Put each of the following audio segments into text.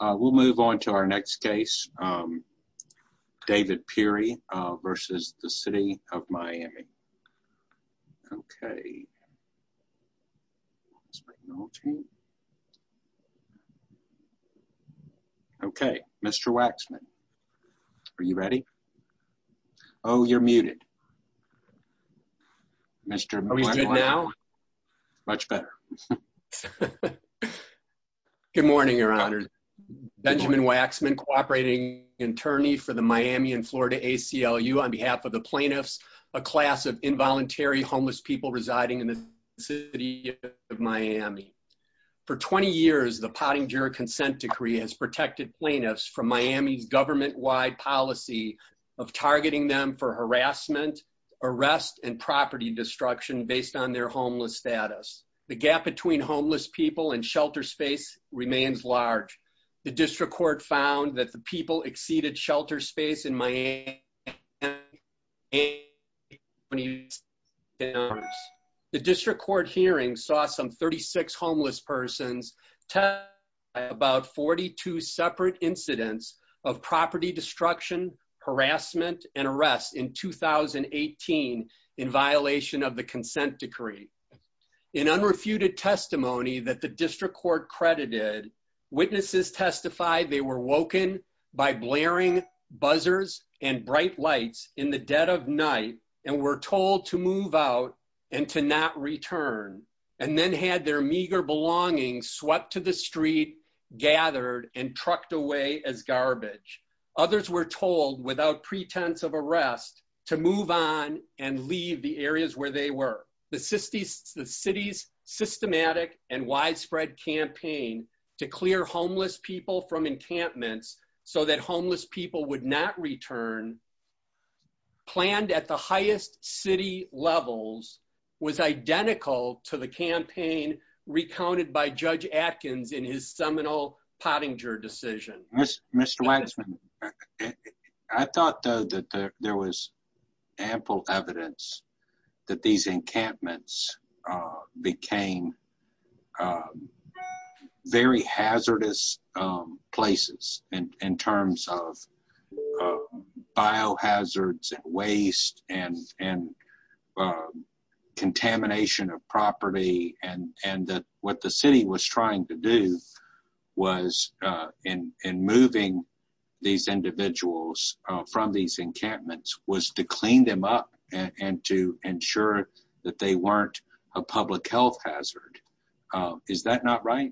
We'll move on to our next case. David Peary versus the city of Miami. Okay. Okay, Mr. Waxman. Are you ready? Oh, you're muted. Mr. Much better. Good morning, your honor. Benjamin Waxman, cooperating attorney for the Miami and Florida ACLU on behalf of the plaintiffs, a class of involuntary homeless people residing in the city of Miami. For 20 years, the potting juror consent decree has protected plaintiffs from Miami's government wide policy of targeting them for harassment, arrest and property destruction based on their homeless status, the gap between homeless people and shelter space remains large. The district court found that the people exceeded shelter space in Miami. The district court hearing saw some 36 homeless persons to about 42 separate incidents of property destruction, harassment and arrest in 2018 in violation of the consent decree. In unrefuted testimony that the district court credited witnesses testified they were woken by blaring buzzers and bright lights in the dead of night and were told to move out and to not return and then had their meager belongings swept to the street gathered and trucked away as garbage. Others were told without pretense of arrest to move on and leave the areas where they were. The city's systematic and widespread campaign to clear homeless people from encampments so that homeless people would not return planned at the highest city levels was identical to the campaign recounted by Judge Atkins in his seminal potting juror decision. Mr. Waxman, I thought that there was ample evidence that these encampments became very hazardous places in terms of biohazards and waste and contamination of property and that what the city was trying to do was removing these individuals from these encampments was to clean them up and to ensure that they weren't a public health hazard. Is that not right?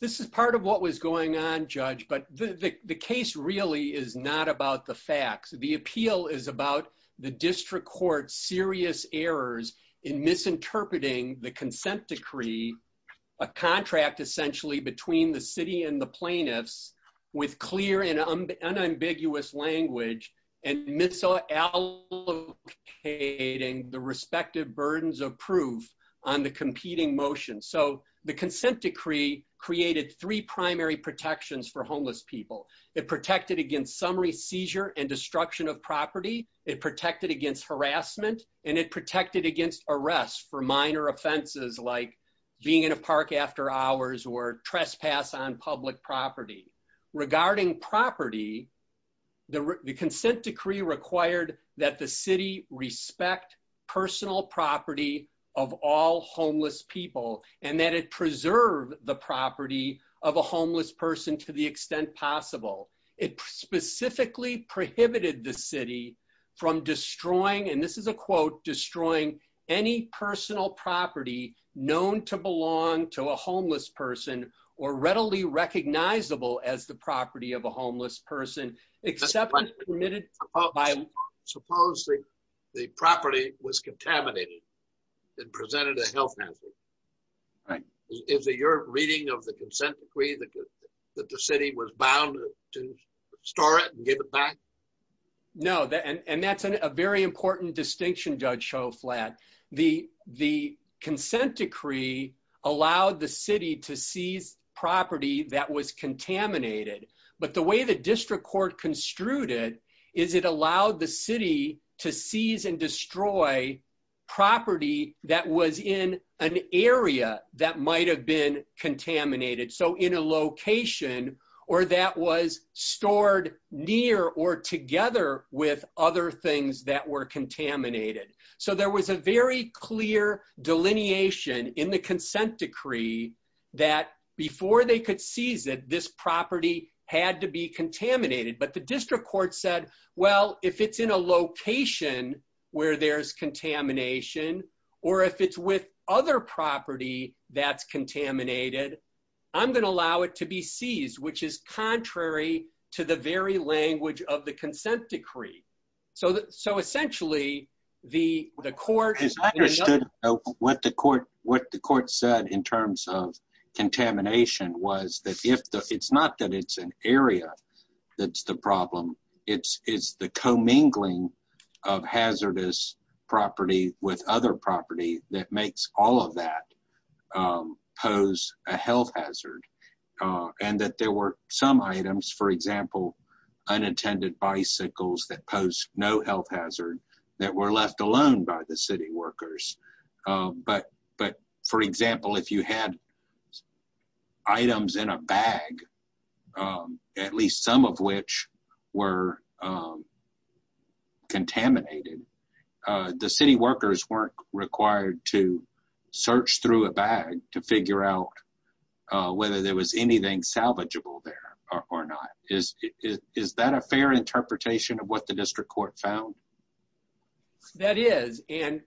This is part of what was going on, Judge, but the case really is not about the facts. The appeal is about the district court serious errors in misinterpreting the consent decree, a contract essentially between the city and the plaintiffs with clear and unambiguous language and misallocating the respective burdens of proof on the competing motion. So the consent decree created three primary protections for homeless people. It protected against summary seizure and destruction of property. It protected against harassment and it protected against arrest for minor offenses like being in a park after hours or trespass on public property. Regarding property, the consent decree required that the city respect personal property of all homeless people and that it preserve the property of a homeless person to the extent possible. It specifically prohibited the city from destroying, and this is a quote, destroying any personal property known to belong to a homeless person or readily recognizable as the property of a homeless person except permitted by law. And that's a very important distinction, Judge Schoflat. The consent decree allowed the city to seize property that was contaminated, but the way the district court construed it is it allowed the city to seize and destroy property that was in an area that might have been contaminated. So in a location or that was stored near or together with other things that were contaminated. So there was a very clear delineation in the consent decree that before they could seize it, this property had to be contaminated. But the district court said, well, if it's in a location where there's contamination, or if it's with other property that's contaminated, I'm going to allow it to be seized, which is contrary to the very language of the consent decree. So essentially, the court understood what the court said in terms of contamination was that it's not that it's an area that's the problem. It's the commingling of hazardous property with other property that makes all of that pose a health hazard. And that there were some items, for example, unattended bicycles that pose no health hazard that were left alone by the city workers. But for example, if you had items in a bag, at least some of which were contaminated, the city workers weren't required to search through a bag to figure out whether there was anything salvageable there or not. Is that a fair interpretation of what the district court found? That is. And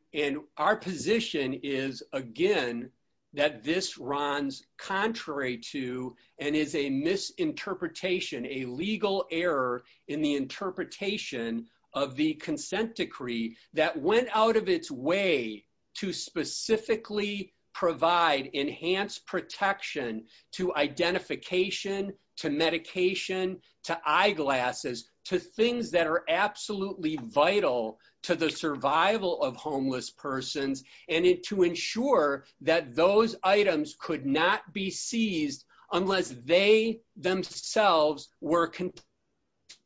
our position is, again, that this runs contrary to and is a misinterpretation, a legal error in the interpretation of the consent decree that went out of its way to specifically provide enhanced protection to identification, to medication, to eyeglasses, to things that are absolutely vital to the survival of homeless persons and to ensure that those items could not be seized unless they themselves were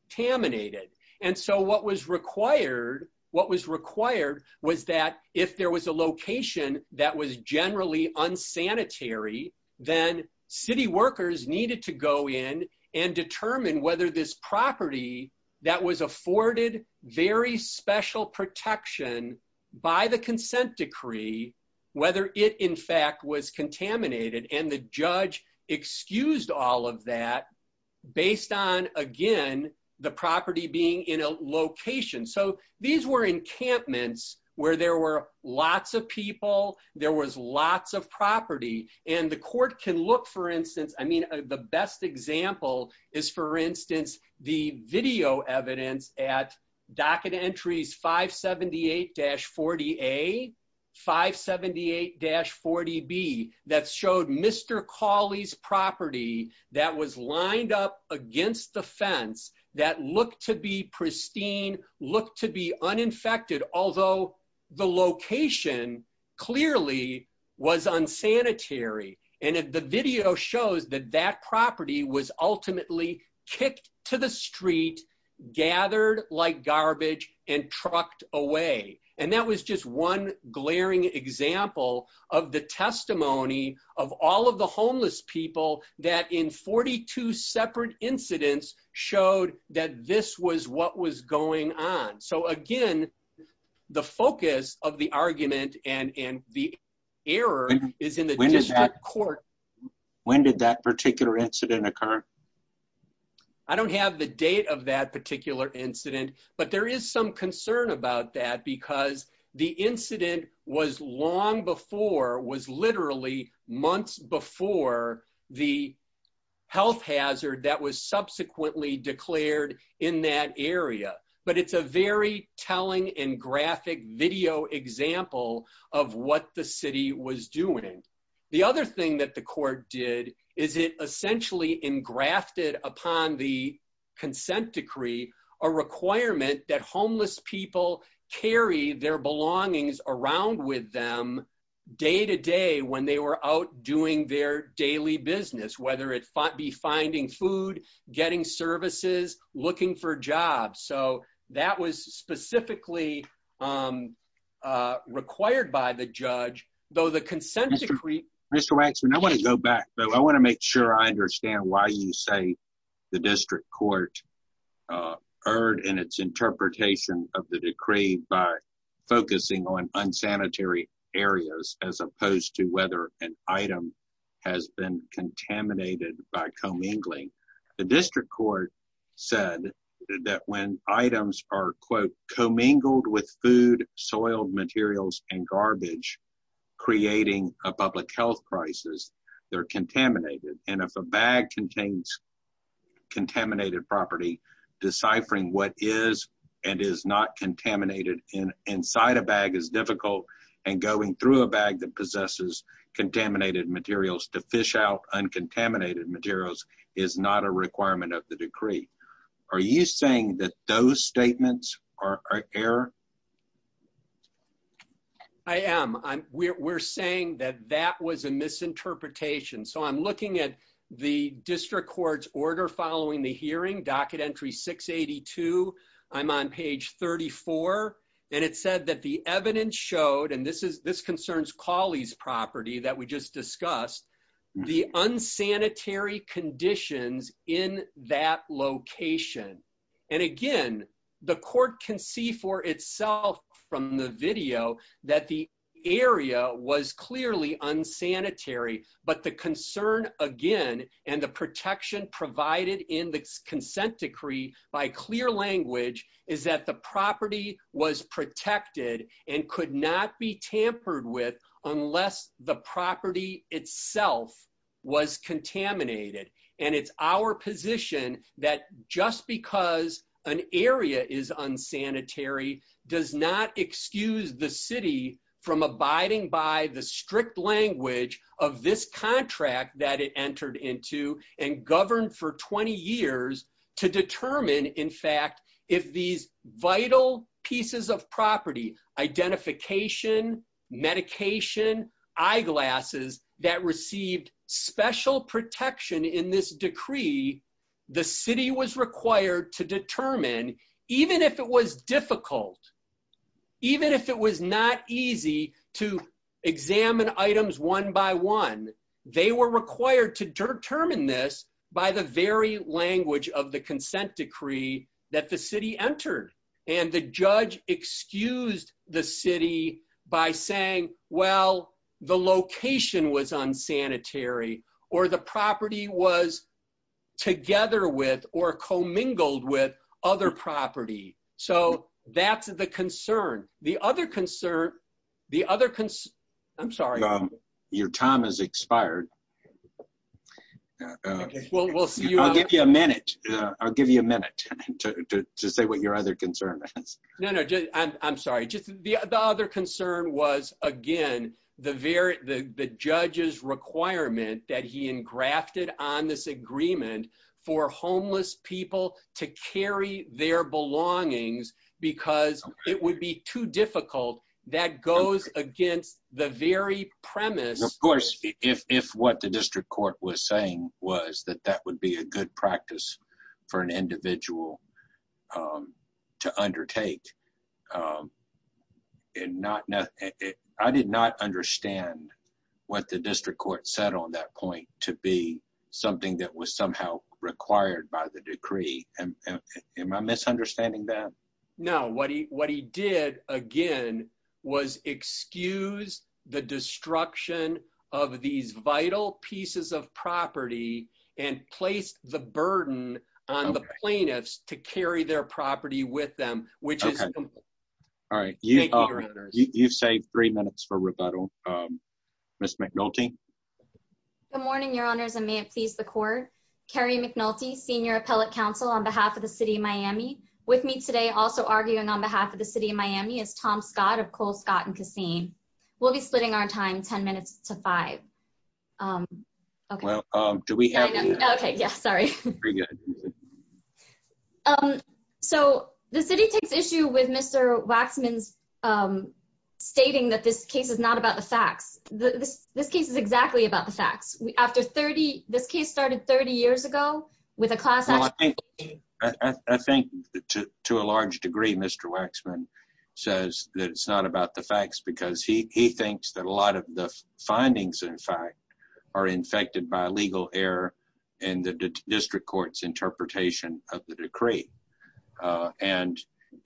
contaminated. And so what was required was that if there was a location that was generally unsanitary, then city workers needed to go in and determine whether this property that was afforded very special protection by the consent decree, whether it in fact was contaminated. And the judge excused all of that based on, again, the property being in a location. So these were encampments where there were lots of people, there was lots of property, and the court can look, for instance, I mean, the best example is, for instance, the video evidence at docket entries 578-40A, 578-40B that showed Mr. Cawley's property that was lined up against the fence that looked to be pristine, looked to be uninfected, although the location clearly was unsanitary. And the video shows that that property was ultimately kicked to the street, gathered like garbage, and trucked away. And that was just one glaring example of the testimony of all of the homeless people that in 42 separate incidents showed that this was what was going on. So again, the focus of the argument and the error is in the district court. When did that particular incident occur? I don't have the date of that particular incident, but there is some concern about that because the incident was long before, was literally months before the health hazard that was subsequently declared in that area. But it's a very telling and graphic video example of what the city was doing. The other thing that the court did is it essentially engrafted upon the consent decree a requirement that homeless people carry their belongings around with them day to day when they were out doing their daily business, whether it be finding food, getting services, looking for jobs. So that was specifically required by the judge, though the consent decree- Mr. Waxman, I want to go back. I want to make sure I understand why you say the district court erred in its interpretation of the decree by focusing on unsanitary areas as opposed to whether an item has been contaminated by co-mingling. The district court said that when items are, quote, co-mingled with food, soiled materials, and garbage, creating a public health crisis, they're contaminated. And if a bag contains contaminated property, deciphering what is and is not contaminated inside a bag is difficult, and going through a bag that possesses contaminated materials to fish out uncontaminated materials is not a requirement of the decree. Are you saying that those statements are error? I am. We're saying that that was a misinterpretation. So I'm looking at the district court's order following the hearing, docket entry 682. I'm on page 34, and it said that the evidence showed, and this concerns Cawley's property that we just discussed, the unsanitary conditions in that location. And again, the court can see for itself from the video that the area was clearly unsanitary, but the concern, again, and the protection provided in the consent decree by clear language is that the property was protected and could not be tampered with unless the property itself was contaminated. And it's our position that just because an area is unsanitary does not excuse the city from abiding by the strict language of this contract that it entered into and governed for 20 years to determine, in fact, if these vital pieces of property, identification, medication, eyeglasses, that received special protection in this decree, the city was required to determine, even if it was difficult, even if it was not easy to examine items one by one, they were required to determine this by the very language of the consent decree that the city entered. And the judge excused the city by saying, well, the location was unsanitary or the property was together with or commingled with other property. So that's the concern. The other concern, the other concern, I'm sorry. Your time has expired. I'll give you a minute. I'll give you a minute to say what your other concern is. I'm sorry. The other concern was, again, the judge's requirement that he engrafted on this agreement for homeless people to carry their belongings because it would be too difficult. That goes against the very premise. Of course, if what the district court was saying was that that would be a good practice for an individual to undertake. I did not understand what the district court said on that point to be something that was somehow required by the decree. Am I misunderstanding that? No. What he did, again, was excuse the destruction of these vital pieces of property and placed the burden on the plaintiffs to carry their property with them, which is. All right. You've saved three minutes for rebuttal. Ms. McNulty. Good morning, Your Honors, and may it please the court. Carrie McNulty, senior appellate counsel on behalf of the city of Miami. With me today also arguing on behalf of the city of Miami is Tom Scott of Cole, Scott and Cassine. We'll be splitting our time 10 minutes to five. Okay, well, do we have. Okay, yeah, sorry. So the city takes issue with Mr. Waxman's stating that this case is not about the facts. This case is exactly about the facts. After 30, this case started 30 years ago with a class action. I think to a large degree, Mr. Waxman says that it's not about the facts because he thinks that a lot of the findings, in fact, are infected by legal error and the district court's interpretation of the decree.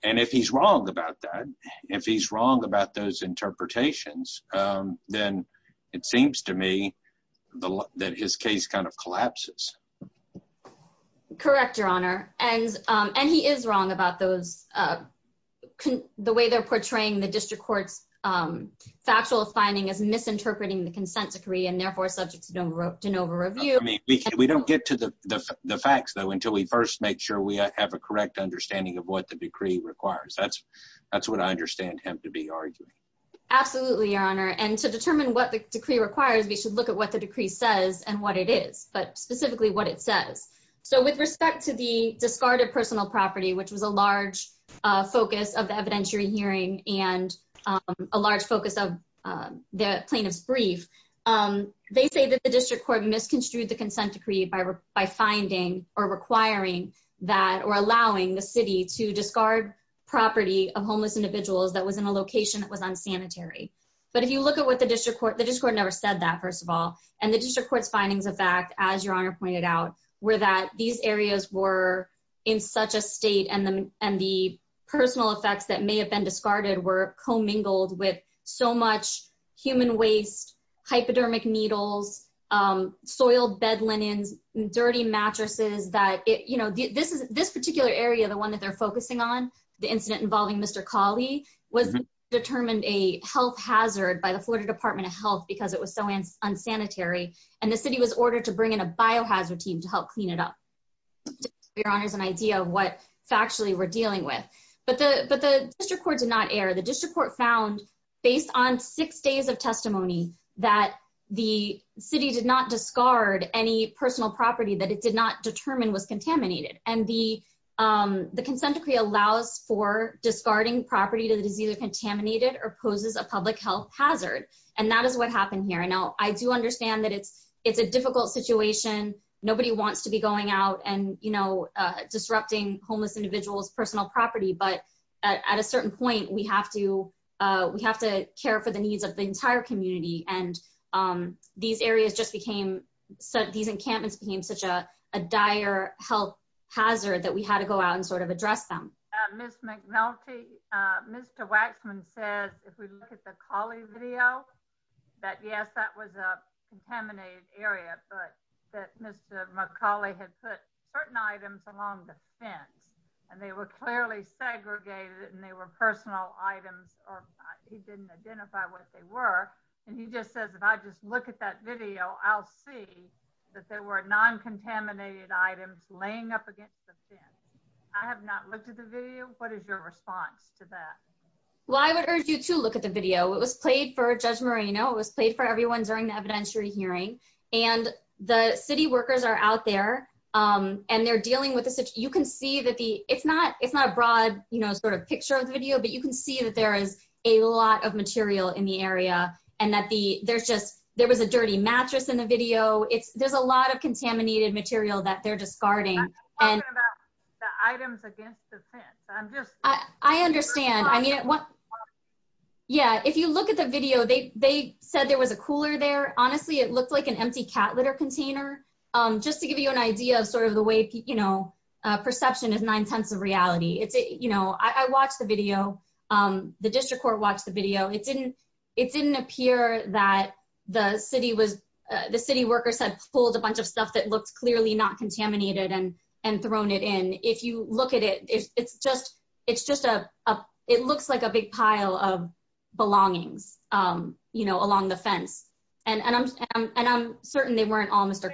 And if he's wrong about that, if he's wrong about those interpretations, then it seems to me that his case kind of collapses. Correct, Your Honor, and and he is wrong about those. The way they're portraying the district court's factual finding is misinterpreting the consent decree and therefore subjects don't wrote an over review. We don't get to the facts, though, until we first make sure we have a correct understanding of what the decree requires. That's, that's what I understand him to be arguing. Absolutely, Your Honor, and to determine what the decree requires, we should look at what the decree says and what it is, but specifically what it says. So with respect to the discarded personal property, which was a large focus of the evidentiary hearing and a large focus of the plaintiff's brief. They say that the district court misconstrued the consent decree by finding or requiring that or allowing the city to discard property of homeless individuals that was in a location that was unsanitary. But if you look at what the district court, the district court never said that, first of all. And the district court's findings of fact, as Your Honor pointed out, were that these areas were in such a state and the and the personal effects that may have been discarded were commingled with so much human waste, hypodermic needles, soiled bed linens, dirty mattresses that, you know, this is this particular area, the one that they're focusing on the incident involving Mr. Kali was determined a health hazard by the Florida Department of Health because it was so unsanitary and the city was ordered to bring in a biohazard team to help clean it up. Your Honor's an idea of what factually we're dealing with, but the but the district court did not air the district court found based on six days of testimony that the city did not discard any personal property that it did not determine was contaminated and the consent decree allows for discarding property that is either contaminated or poses a public health hazard. And that is what happened here. And now I do understand that it's, it's a difficult situation. Nobody wants to be going out and, you know, disrupting homeless individuals personal property, but at a certain point, we have to, we have to care for the needs of the entire community and These areas just became so these encampments became such a dire health hazard that we had to go out and sort of address them. Miss McNulty, Mr. Waxman said, if we look at the Kali video that yes, that was a contaminated area, but that Mr. McCauley had put certain items along the fence. And they were clearly segregated and they were personal items or he didn't identify what they were. And he just says, if I just look at that video, I'll see that there were non contaminated items laying up against the fence. I have not looked at the video. What is your response to that. Well, I would urge you to look at the video. It was played for Judge Moreno. It was played for everyone during the evidentiary hearing and the city workers are out there. And they're dealing with this, you can see that the it's not, it's not a broad, you know, sort of picture of the video, but you can see that there is a lot of material in the area and that the there's just, there was a dirty mattress in the video. It's, there's a lot of contaminated material that they're discarding. And the items against the fence. I'm just, I understand. I mean, yeah, if you look at the video, they, they said there was a cooler there. Honestly, it looked like an empty cat litter container. Just to give you an idea of sort of the way, you know, perception is nine tenths of reality. It's, you know, I watched the video, the district court watched the video. It didn't, it didn't appear that the city was, the city workers had pulled a bunch of stuff that looks clearly not contaminated and, and thrown it in. And if you look at it, it's just, it's just a, it looks like a big pile of belongings, you know, along the fence and, and I'm, I'm, and I'm certain they weren't all Mr.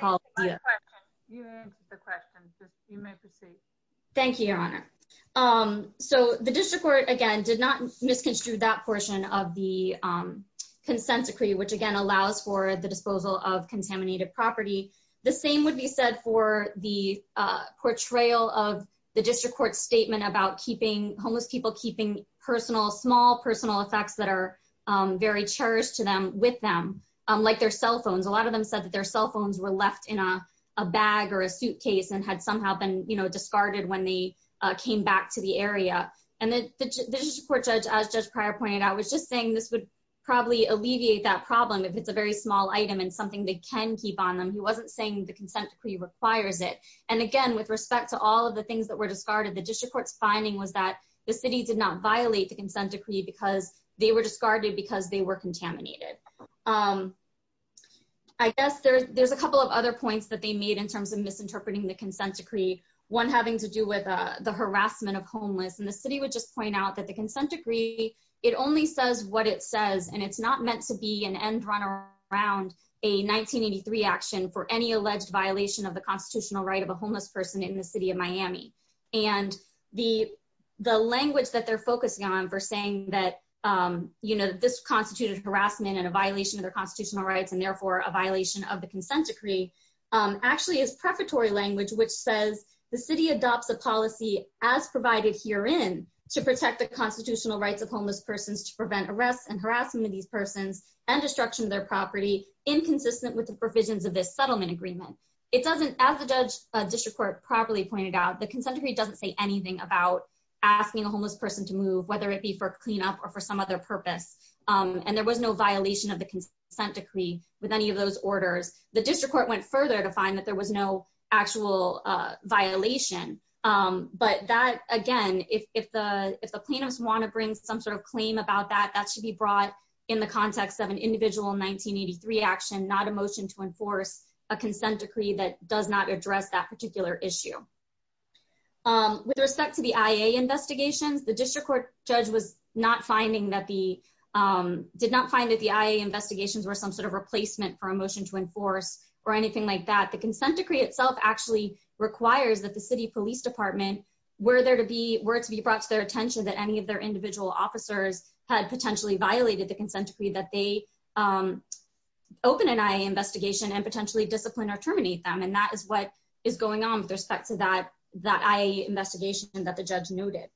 So the district court, again, did not misconstrue that portion of the consent decree, which again allows for the disposal of contaminated property. The same would be said for the portrayal of the district court statement about keeping homeless people keeping personal small personal effects that are very cherished to them with them. Like their cell phones. A lot of them said that their cell phones were left in a bag or a suitcase and had somehow been, you know, discarded when they came back to the area. And then the court judge as just prior pointed out was just saying this would probably alleviate that problem if it's a very small item and something that can keep on them. He wasn't saying the consent decree requires it. And again, with respect to all of the things that were discarded the district court's finding was that the city did not violate the consent decree because they were discarded because they were contaminated. Um, I guess there's, there's a couple of other points that they made in terms of misinterpreting the consent decree one having to do with the harassment of homeless and the city would just point out that the consent decree. It only says what it says and it's not meant to be an end runner around a 1983 action for any alleged violation of the constitutional right of a homeless person in the city of Miami, and the, the language that they're focusing on for saying that, you know, this to prevent arrests and harassment of these persons and destruction of their property inconsistent with the provisions of this settlement agreement. It doesn't as a judge district court properly pointed out the consent decree doesn't say anything about asking a homeless person to move, whether it be for cleanup or for some other purpose. And there was no violation of the consent decree with any of those orders, the district court went further to find that there was no actual violation. But that, again, if the, if the plaintiffs want to bring some sort of claim about that that should be brought in the context of an individual 1983 action not a motion to enforce a consent decree that does not address that particular issue. With respect to the investigation, the district court judge was not finding that the did not find that the investigations were some sort of replacement for a motion to enforce or anything like that the consent decree itself actually requires that the city police department, were there to be were to be brought to their attention that any of their individual officers had potentially violated the consent decree that they open an eye investigation and potentially discipline or terminate them and that is what is going on with respect to that, that I investigation that the judge noted.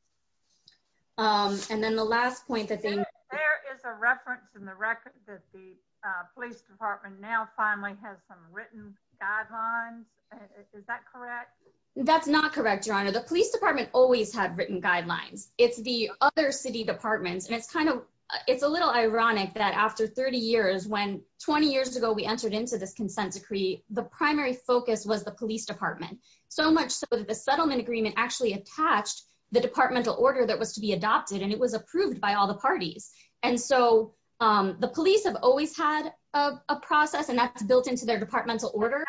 And then the last point that there is a reference in the record that the police department now finally has some written guidelines. That's not correct, Your Honor, the police department always had written guidelines, it's the other city departments and it's kind of, it's a little ironic that after 30 years when 20 years ago we entered into this consent decree, the primary focus was the police department, so much so that the settlement agreement actually attached the departmental order that was to be adopted and it was approved by all the parties. And so, um, the police have always had a process and that's built into their departmental order.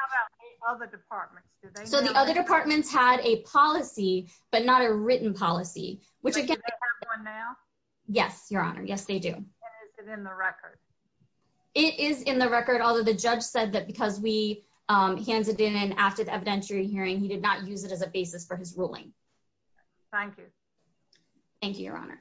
So the other departments had a policy, but not a written policy, which again. Yes, Your Honor. Yes, they do. It is in the record, although the judge said that because we handed in after the evidentiary hearing he did not use it as a basis for his ruling. Thank you. Thank you, Your Honor.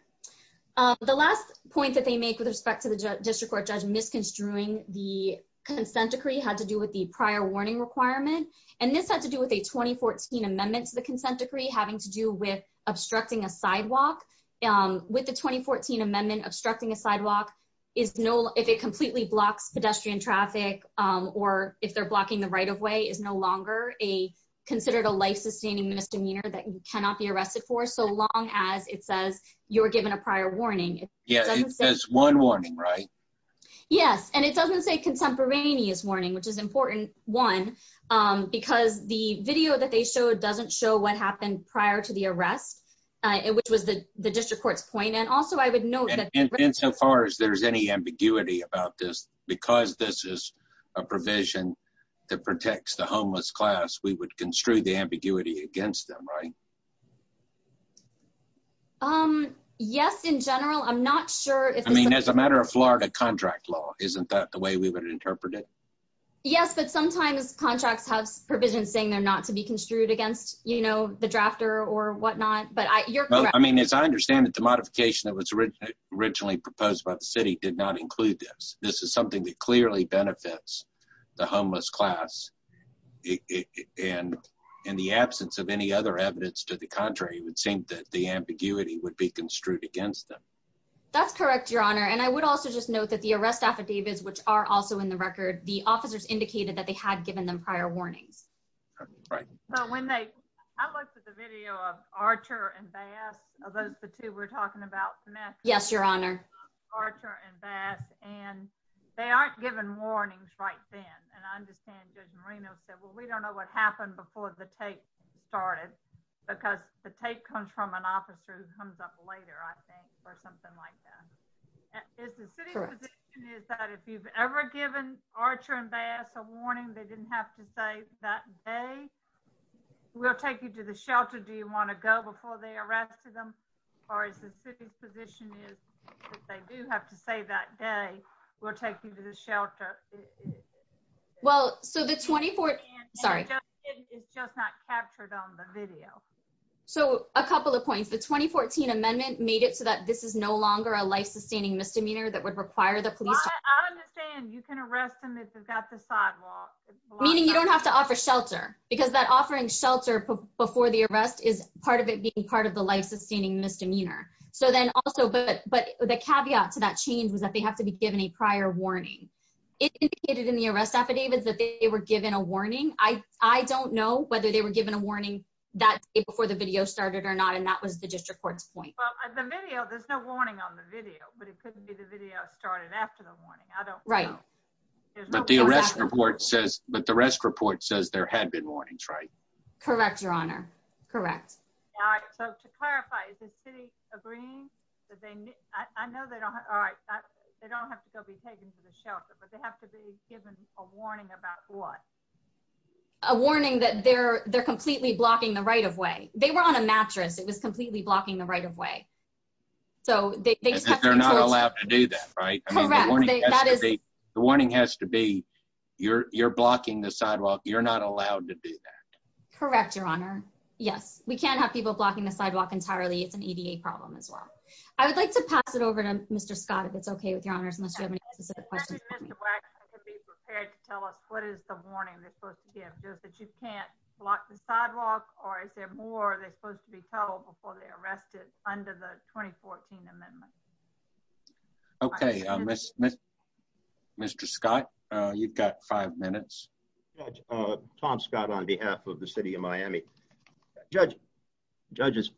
The last point that they make with respect to the district court judge misconstruing the consent decree had to do with the prior warning requirement, and this had to do with a 2014 amendments the consent decree having to do with obstructing a sidewalk. With the 2014 amendment obstructing a sidewalk is no, if it completely blocks pedestrian traffic, or if they're blocking the right of way is no longer a considered a life sustaining misdemeanor that cannot be arrested for so long as it says you're given a prior warning. Yeah, it says one warning, right? Yes, and it doesn't say contemporaneous warning, which is important. One, because the video that they showed doesn't show what happened prior to the arrest. It was the district courts point and also I would know that In so far as there's any ambiguity about this, because this is a provision that protects the homeless class, we would construe the ambiguity against them right Um, yes, in general, I'm not sure if I mean, as a matter of Florida contract law, isn't that the way we would interpret it. Yes, but sometimes contracts have provisions saying they're not to be construed against, you know, the drafter or whatnot, but I I mean, as I understand it, the modification that was originally proposed by the city did not include this. This is something that clearly benefits the homeless class. And in the absence of any other evidence to the contrary, it would seem that the ambiguity would be construed against them. That's correct, Your Honor. And I would also just note that the arrest affidavits, which are also in the record, the officers indicated that they had given them prior warnings. So when they, I looked at the video of Archer and Bass, are those the two we're talking about? Yes, Your Honor. Archer and Bass, and they aren't given warnings right then. And I understand Judge Marino said, well, we don't know what happened before the tape started. Because the tape comes from an officer who comes up later, I think, or something like that. Is the city's position is that if you've ever given Archer and Bass a warning, they didn't have to say that day? We'll take you to the shelter. Do you want to go before they arrested them? Or is the city's position is, if they do have to say that day, we'll take you to the shelter? Well, so the 24th, sorry. It's just not captured on the video. So a couple of points. The 2014 amendment made it so that this is no longer a life-sustaining misdemeanor that would require the police. I understand you can arrest them if they've got the sidewalk. Meaning you don't have to offer shelter, because that offering shelter before the arrest is part of it being part of the life-sustaining misdemeanor. So then also, but the caveat to that change was that they have to be given a prior warning. It indicated in the arrest affidavit that they were given a warning. I don't know whether they were given a warning that day before the video started or not, and that was the district court's point. Well, there's no warning on the video, but it couldn't be the video started after the warning. I don't know. Right. But the arrest report says there had been warnings, right? Correct, Your Honor. Correct. All right. So to clarify, is the city agreeing? I know they don't have to go be taken to the shelter, but they have to be given a warning about what? A warning that they're completely blocking the right-of-way. They were on a mattress. It was completely blocking the right-of-way. They're not allowed to do that, right? Correct. The warning has to be, you're blocking the sidewalk. You're not allowed to do that. Correct, Your Honor. Yes, we can't have people blocking the sidewalk entirely. It's an ADA problem as well. I would like to pass it over to Mr. Scott, if it's okay with Your Honors, unless you have any specific questions. Mr. Waxman can be prepared to tell us what is the warning they're supposed to give. Is it that you can't block the sidewalk, or is there more they're supposed to be told before they're arrested under the 2014 amendment? Okay. Mr. Scott, you've got five minutes. Judge, Tom Scott on behalf of the city of Miami. Judges,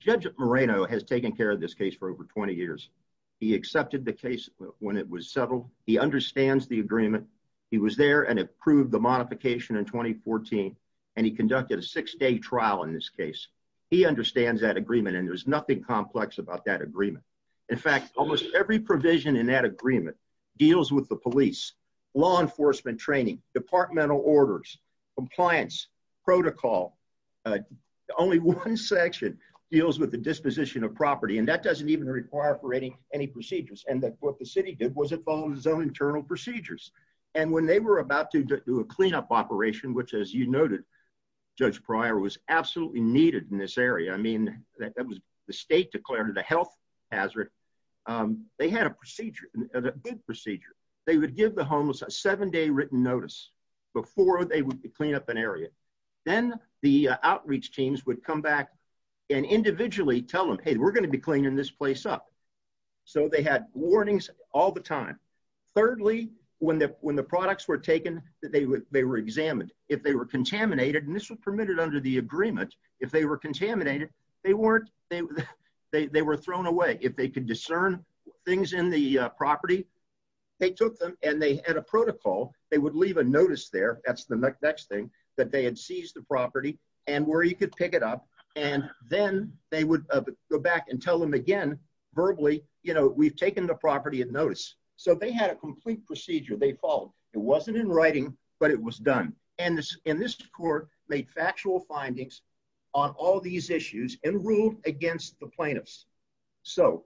Judge Moreno has taken care of this case for over 20 years. He accepted the case when it was settled. He understands the agreement. He was there and approved the modification in 2014, and he conducted a six-day trial in this case. He understands that agreement, and there's nothing complex about that agreement. In fact, almost every provision in that agreement deals with the police, law enforcement training, departmental orders, compliance, protocol. Only one section deals with the disposition of property, and that doesn't even require any procedures. And what the city did was it followed its own internal procedures. And when they were about to do a cleanup operation, which as you noted, Judge Pryor, was absolutely needed in this area. I mean, the state declared it a health hazard. They had a procedure, a good procedure. They would give the homeless a seven-day written notice before they would clean up an area. Then the outreach teams would come back and individually tell them, hey, we're going to be cleaning this place up. So they had warnings all the time. Thirdly, when the products were taken, they were examined. If they were contaminated, and this was permitted under the agreement, if they were contaminated, they weren't, they were thrown away. If they could discern things in the property, they took them and they had a protocol. They would leave a notice there, that's the next thing, that they had seized the property and where you could pick it up. And then they would go back and tell them again, verbally, you know, we've taken the property at notice. So they had a complete procedure. They followed. It wasn't in writing, but it was done. And this court made factual findings on all these issues and ruled against the plaintiffs. So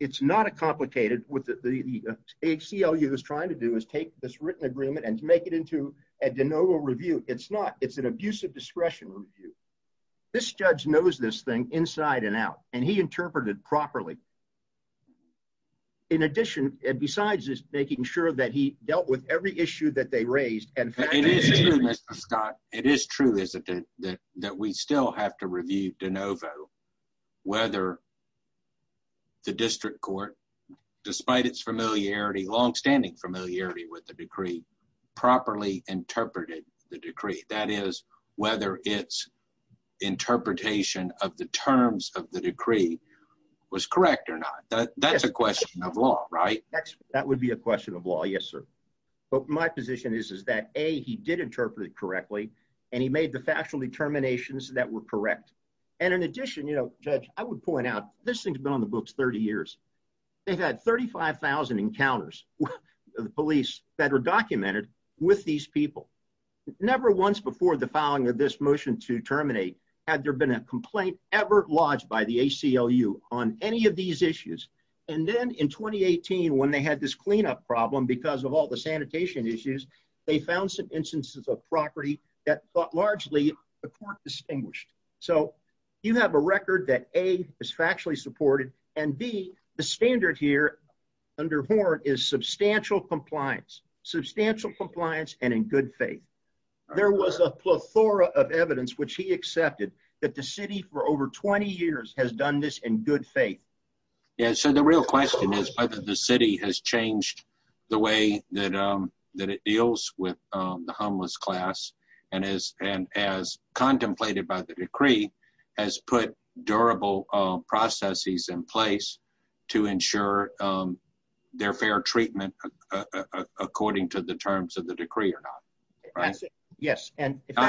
it's not a complicated, what the ACLU is trying to do is take this written agreement and make it into a de novo review. It's not. It's an abusive discretion review. This judge knows this thing inside and out, and he interpreted it properly. In addition, and besides this, making sure that he dealt with every issue that they raised. It is true, Mr. Scott. It is true, isn't it, that we still have to review de novo, whether the district court, despite its familiarity, longstanding familiarity with the decree, properly interpreted the decree. That is, whether its interpretation of the terms of the decree was correct or not. That's a question of law, right? That would be a question of law. Yes, sir. But my position is, is that A, he did interpret it correctly, and he made the factual determinations that were correct. And in addition, you know, Judge, I would point out, this thing's been on the books 30 years. They've had 35,000 encounters with the police that are documented with these people. Never once before the filing of this motion to terminate had there been a complaint ever lodged by the ACLU on any of these issues. And then in 2018, when they had this cleanup problem because of all the sanitation issues, they found some instances of property that largely the court distinguished. So you have a record that A, is factually supported, and B, the standard here under Horn is substantial compliance. Substantial compliance and in good faith. There was a plethora of evidence which he accepted that the city for over 20 years has done this in good faith. Yeah, so the real question is whether the city has changed the way that it deals with the homeless class, and as contemplated by the decree, has put durable processes in place to ensure their fair treatment according to the terms of the decree or not.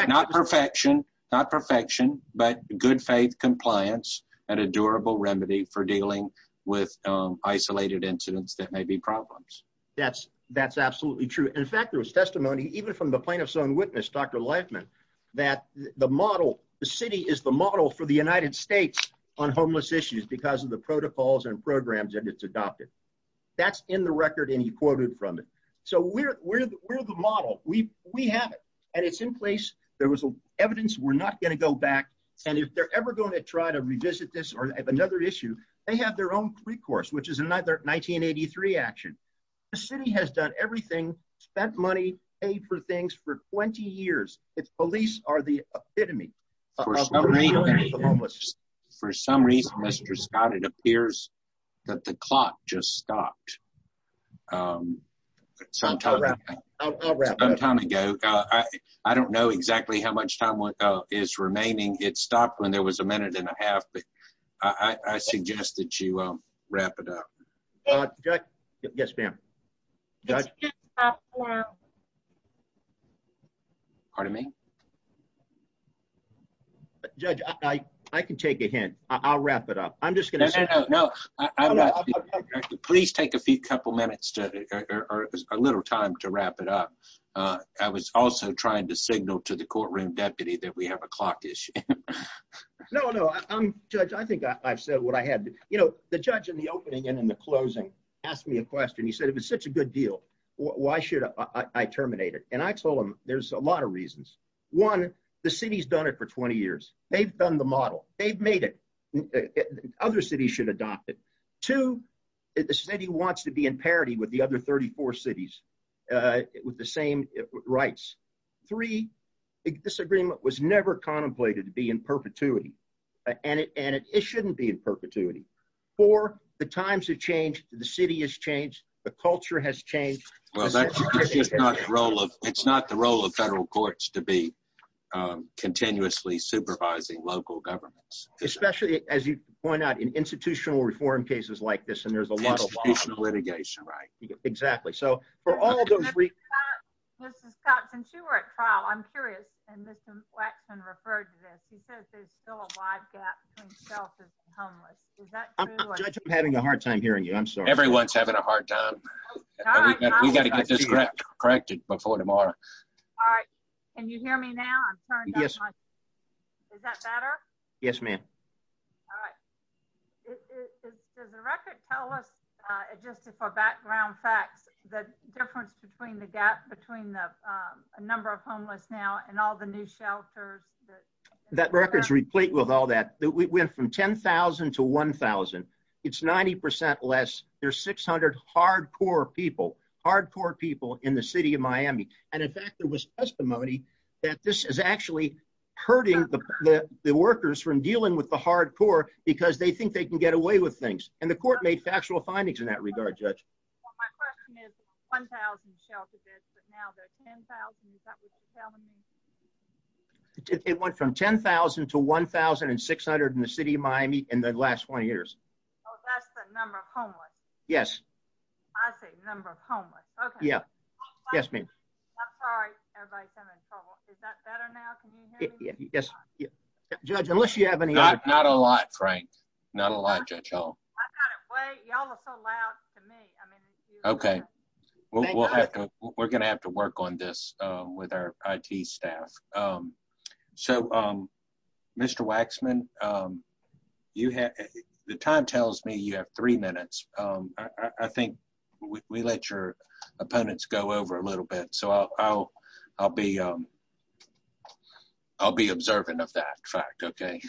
Not perfection, not perfection, but good faith compliance and a durable remedy for dealing with isolated incidents that may be problems. That's absolutely true. In fact, there was testimony even from the plaintiff's own witness, Dr. Leifman, that the model, the city is the model for the United States on homeless issues because of the protocols and programs that it's adopted. That's in the record and he quoted from it. So we're the model. We have it, and it's in place. There was evidence. We're not going to go back, and if they're ever going to try to revisit this or another issue, they have their own pre-course, which is another 1983 action. The city has done everything, spent money, paid for things for 20 years. It's police are the epitome. For some reason, Mr. Scott, it appears that the clock just stopped sometime ago. I don't know exactly how much time is remaining. It stopped when there was a minute and a half, but I suggest that you wrap it up. Yes, ma'am. Pardon me? Judge, I can take a hint. I'll wrap it up. I'm just going to say- No, no, no. Please take a few couple minutes or a little time to wrap it up. I was also trying to signal to the courtroom deputy that we have a clock issue. No, no. Judge, I think I've said what I had to. You know, the judge in the opening and in the closing asked me a question. He said, if it's such a good deal, why should I terminate it? And I told him there's a lot of reasons. One, the city's done it for 20 years. They've done the model. They've made it. Other cities should adopt it. Two, the city wants to be in parity with the other 34 cities with the same rights. Three, this agreement was never contemplated to be in perpetuity, and it shouldn't be in perpetuity. Four, the times have changed. The city has changed. The culture has changed. It's not the role of federal courts to be continuously supervising local governments. Especially, as you point out, in institutional reform cases like this, and there's a lot of litigation. Right. Exactly. So for all those reasons- Mr. Scott, since you were at trial, I'm curious, and Mr. Waxman referred to this. He says there's still a wide gap between selfless and homeless. Is that true? Judge, I'm having a hard time hearing you. I'm sorry. Everyone's having a hard time. We've got to get this corrected before tomorrow. All right. Can you hear me now? Yes. Is that better? Yes, ma'am. All right. Does the record tell us, just for background facts, the difference between the gap between the number of homeless now and all the new shelters? That record's replete with all that. We went from 10,000 to 1,000. It's 90% less. There's 600 hardcore people. Hardcore people in the city of Miami. And in fact, there was testimony that this is actually hurting the workers from dealing with the hardcore because they think they can get away with things. And the court made factual findings in that regard, Judge. Well, my question is 1,000 shelters, but now they're 10,000. Is that what they're telling me? It went from 10,000 to 1,600 in the city of Miami in the last 20 years. Oh, that's the number of homeless? Yes. I see. Number of homeless. Okay. Yeah. Yes, ma'am. I'm sorry. Everybody's having trouble. Is that better now? Can you hear me? Yes. Judge, unless you have any other... Not a lot, Frank. Not a lot, Judge Howell. Y'all are so loud to me. Okay. We're going to have to work on this with our IT staff. So, Mr. Waxman, the time tells me you have three minutes. I think we let your opponents go over a little bit. So, I'll be observant of that fact. Okay.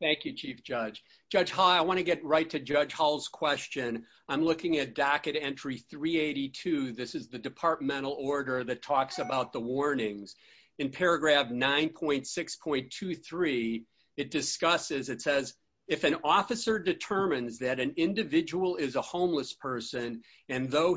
Thank you, Chief Judge. Judge Howell, I want to get right to Judge Howell's question. I'm looking at docket entry 382. This is the departmental order that talks about the warnings. In paragraph 9.6.23, it discusses, it says, if an officer determines that an individual is a homeless person, and through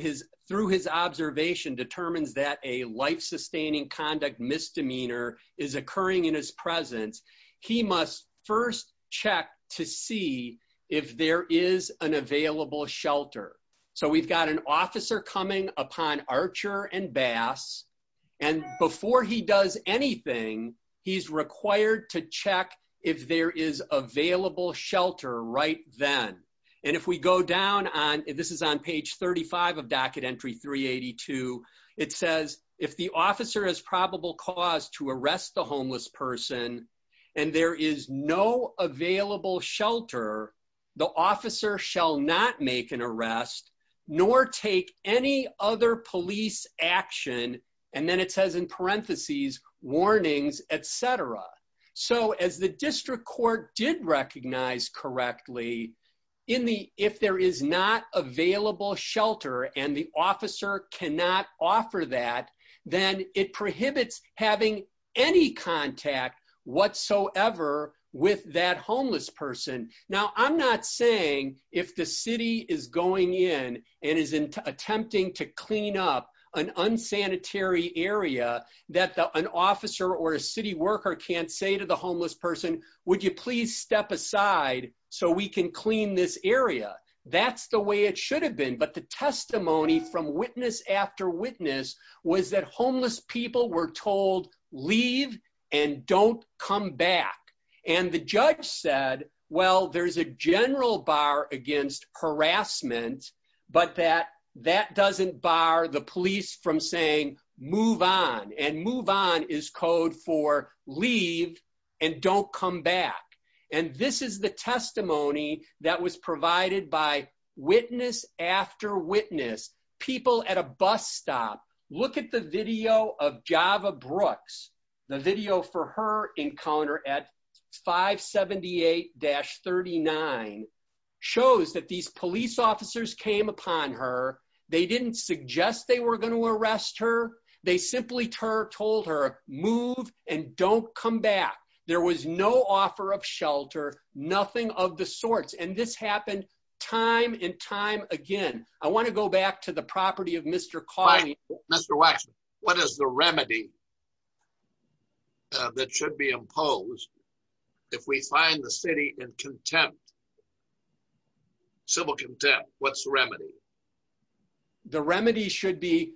his observation, determines that a life-sustaining conduct misdemeanor is occurring in his presence, he must first check to see if there is an available shelter. So, we've got an officer coming upon Archer and Bass, and before he does anything, he's required to check if there is available shelter right then. And if we go down on, this is on page 35 of docket entry 382, it says, if the officer has probable cause to arrest the homeless person, and there is no available shelter, the officer shall not make an arrest, nor take any other police action, and then it says in parentheses, warnings, etc. So, as the district court did recognize correctly, if there is not available shelter, and the officer cannot offer that, then it prohibits having any contact whatsoever with that homeless person. Now, I'm not saying if the city is going in and is attempting to clean up an unsanitary area, that an officer or a city worker can't say to the homeless person, would you please step aside so we can clean this area? That's the way it should have been, but the testimony from witness after witness was that homeless people were told, leave and don't come back. And the judge said, well, there's a general bar against harassment, but that doesn't bar the police from saying, move on. And move on is code for leave and don't come back. And this is the testimony that was provided by witness after witness, people at a bus stop. Look at the video of Java Brooks. The video for her encounter at 578-39 shows that these police officers came upon her. They didn't suggest they were going to arrest her. They simply told her, move and don't come back. There was no offer of shelter, nothing of the sorts. And this happened time and time again. I want to go back to the property of Mr. Cawley. Mr. Waxman, what is the remedy that should be imposed if we find the city in contempt? Civil contempt, what's the remedy? The remedy should be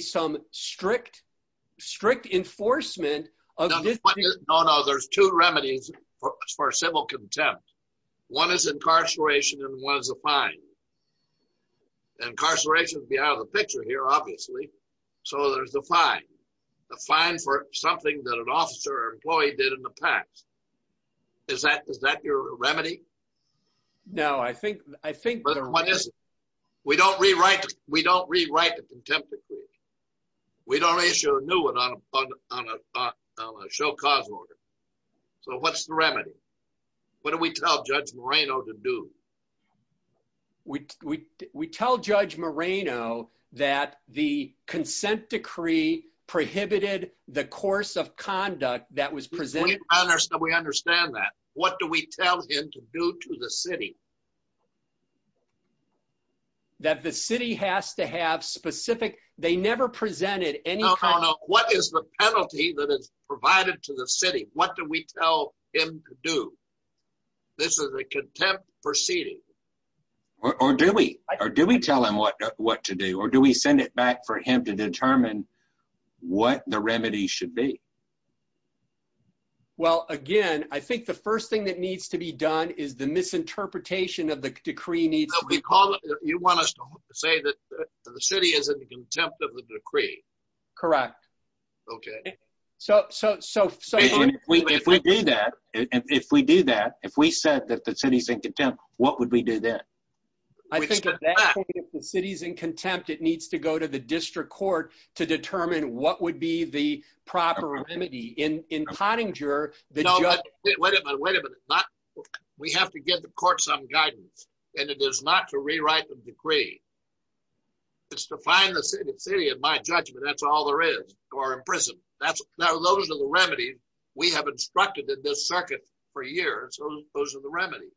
some strict enforcement of this. No, no, there's two remedies for civil contempt. One is incarceration and one is a fine. And incarceration would be out of the picture here, obviously. So there's a fine. A fine for something that an officer or employee did in the past. Is that your remedy? No, I think there is. We don't rewrite the contempt decree. We don't issue a new one on a show cause order. So what's the remedy? What do we tell Judge Moreno to do? We tell Judge Moreno that the consent decree prohibited the course of conduct that was presented. We understand that. What do we tell him to do to the city? That the city has to have specific, they never presented any kind of. No, no, no. What is the penalty that is provided to the city? What do we tell him to do? This is a contempt proceeding. Or do we tell him what to do? Or do we send it back for him to determine what the remedy should be? Well, again, I think the first thing that needs to be done is the misinterpretation of the decree. You want us to say that the city is in contempt of the decree? Correct. Okay. If we do that, if we said that the city is in contempt, what would we do then? I think at that point, if the city is in contempt, it needs to go to the district court to determine what would be the proper remedy. In Pottinger, the judge. Wait a minute, wait a minute. We have to give the court some guidance. And it is not to rewrite the decree. It's to find the city. In my judgment, that's all there is. Or imprisonment. Now, those are the remedies we have instructed in this circuit for years. Those are the remedies.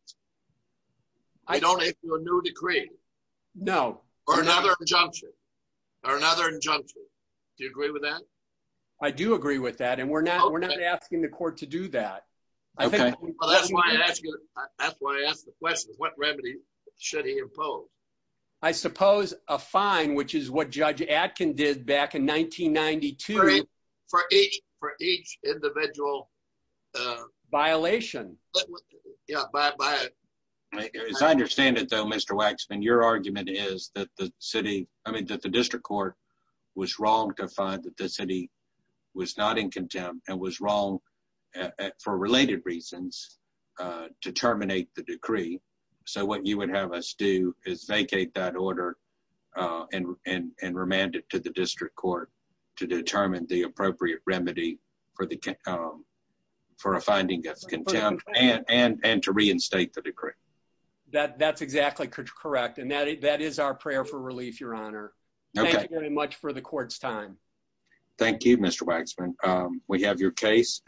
I don't issue a new decree. No. Or another injunction. Or another injunction. Do you agree with that? I do agree with that. And we're not asking the court to do that. Okay. That's why I asked the question. What remedy should he impose? I suppose a fine, which is what Judge Atkin did back in 1992. For each individual. Violation. Yeah. As I understand it, though, Mr. Waxman, your argument is that the city, I mean, that the district court was wrong to find that the city was not in contempt and was wrong for related reasons to terminate the decree. So what you would have us do is vacate that order and remand it to the district court to determine the appropriate remedy for a finding that's contempt and to reinstate the decree. That's exactly correct. And that is our prayer for relief, Your Honor. Okay. Thank you very much for the court's time. Thank you, Mr. Waxman. We have your case.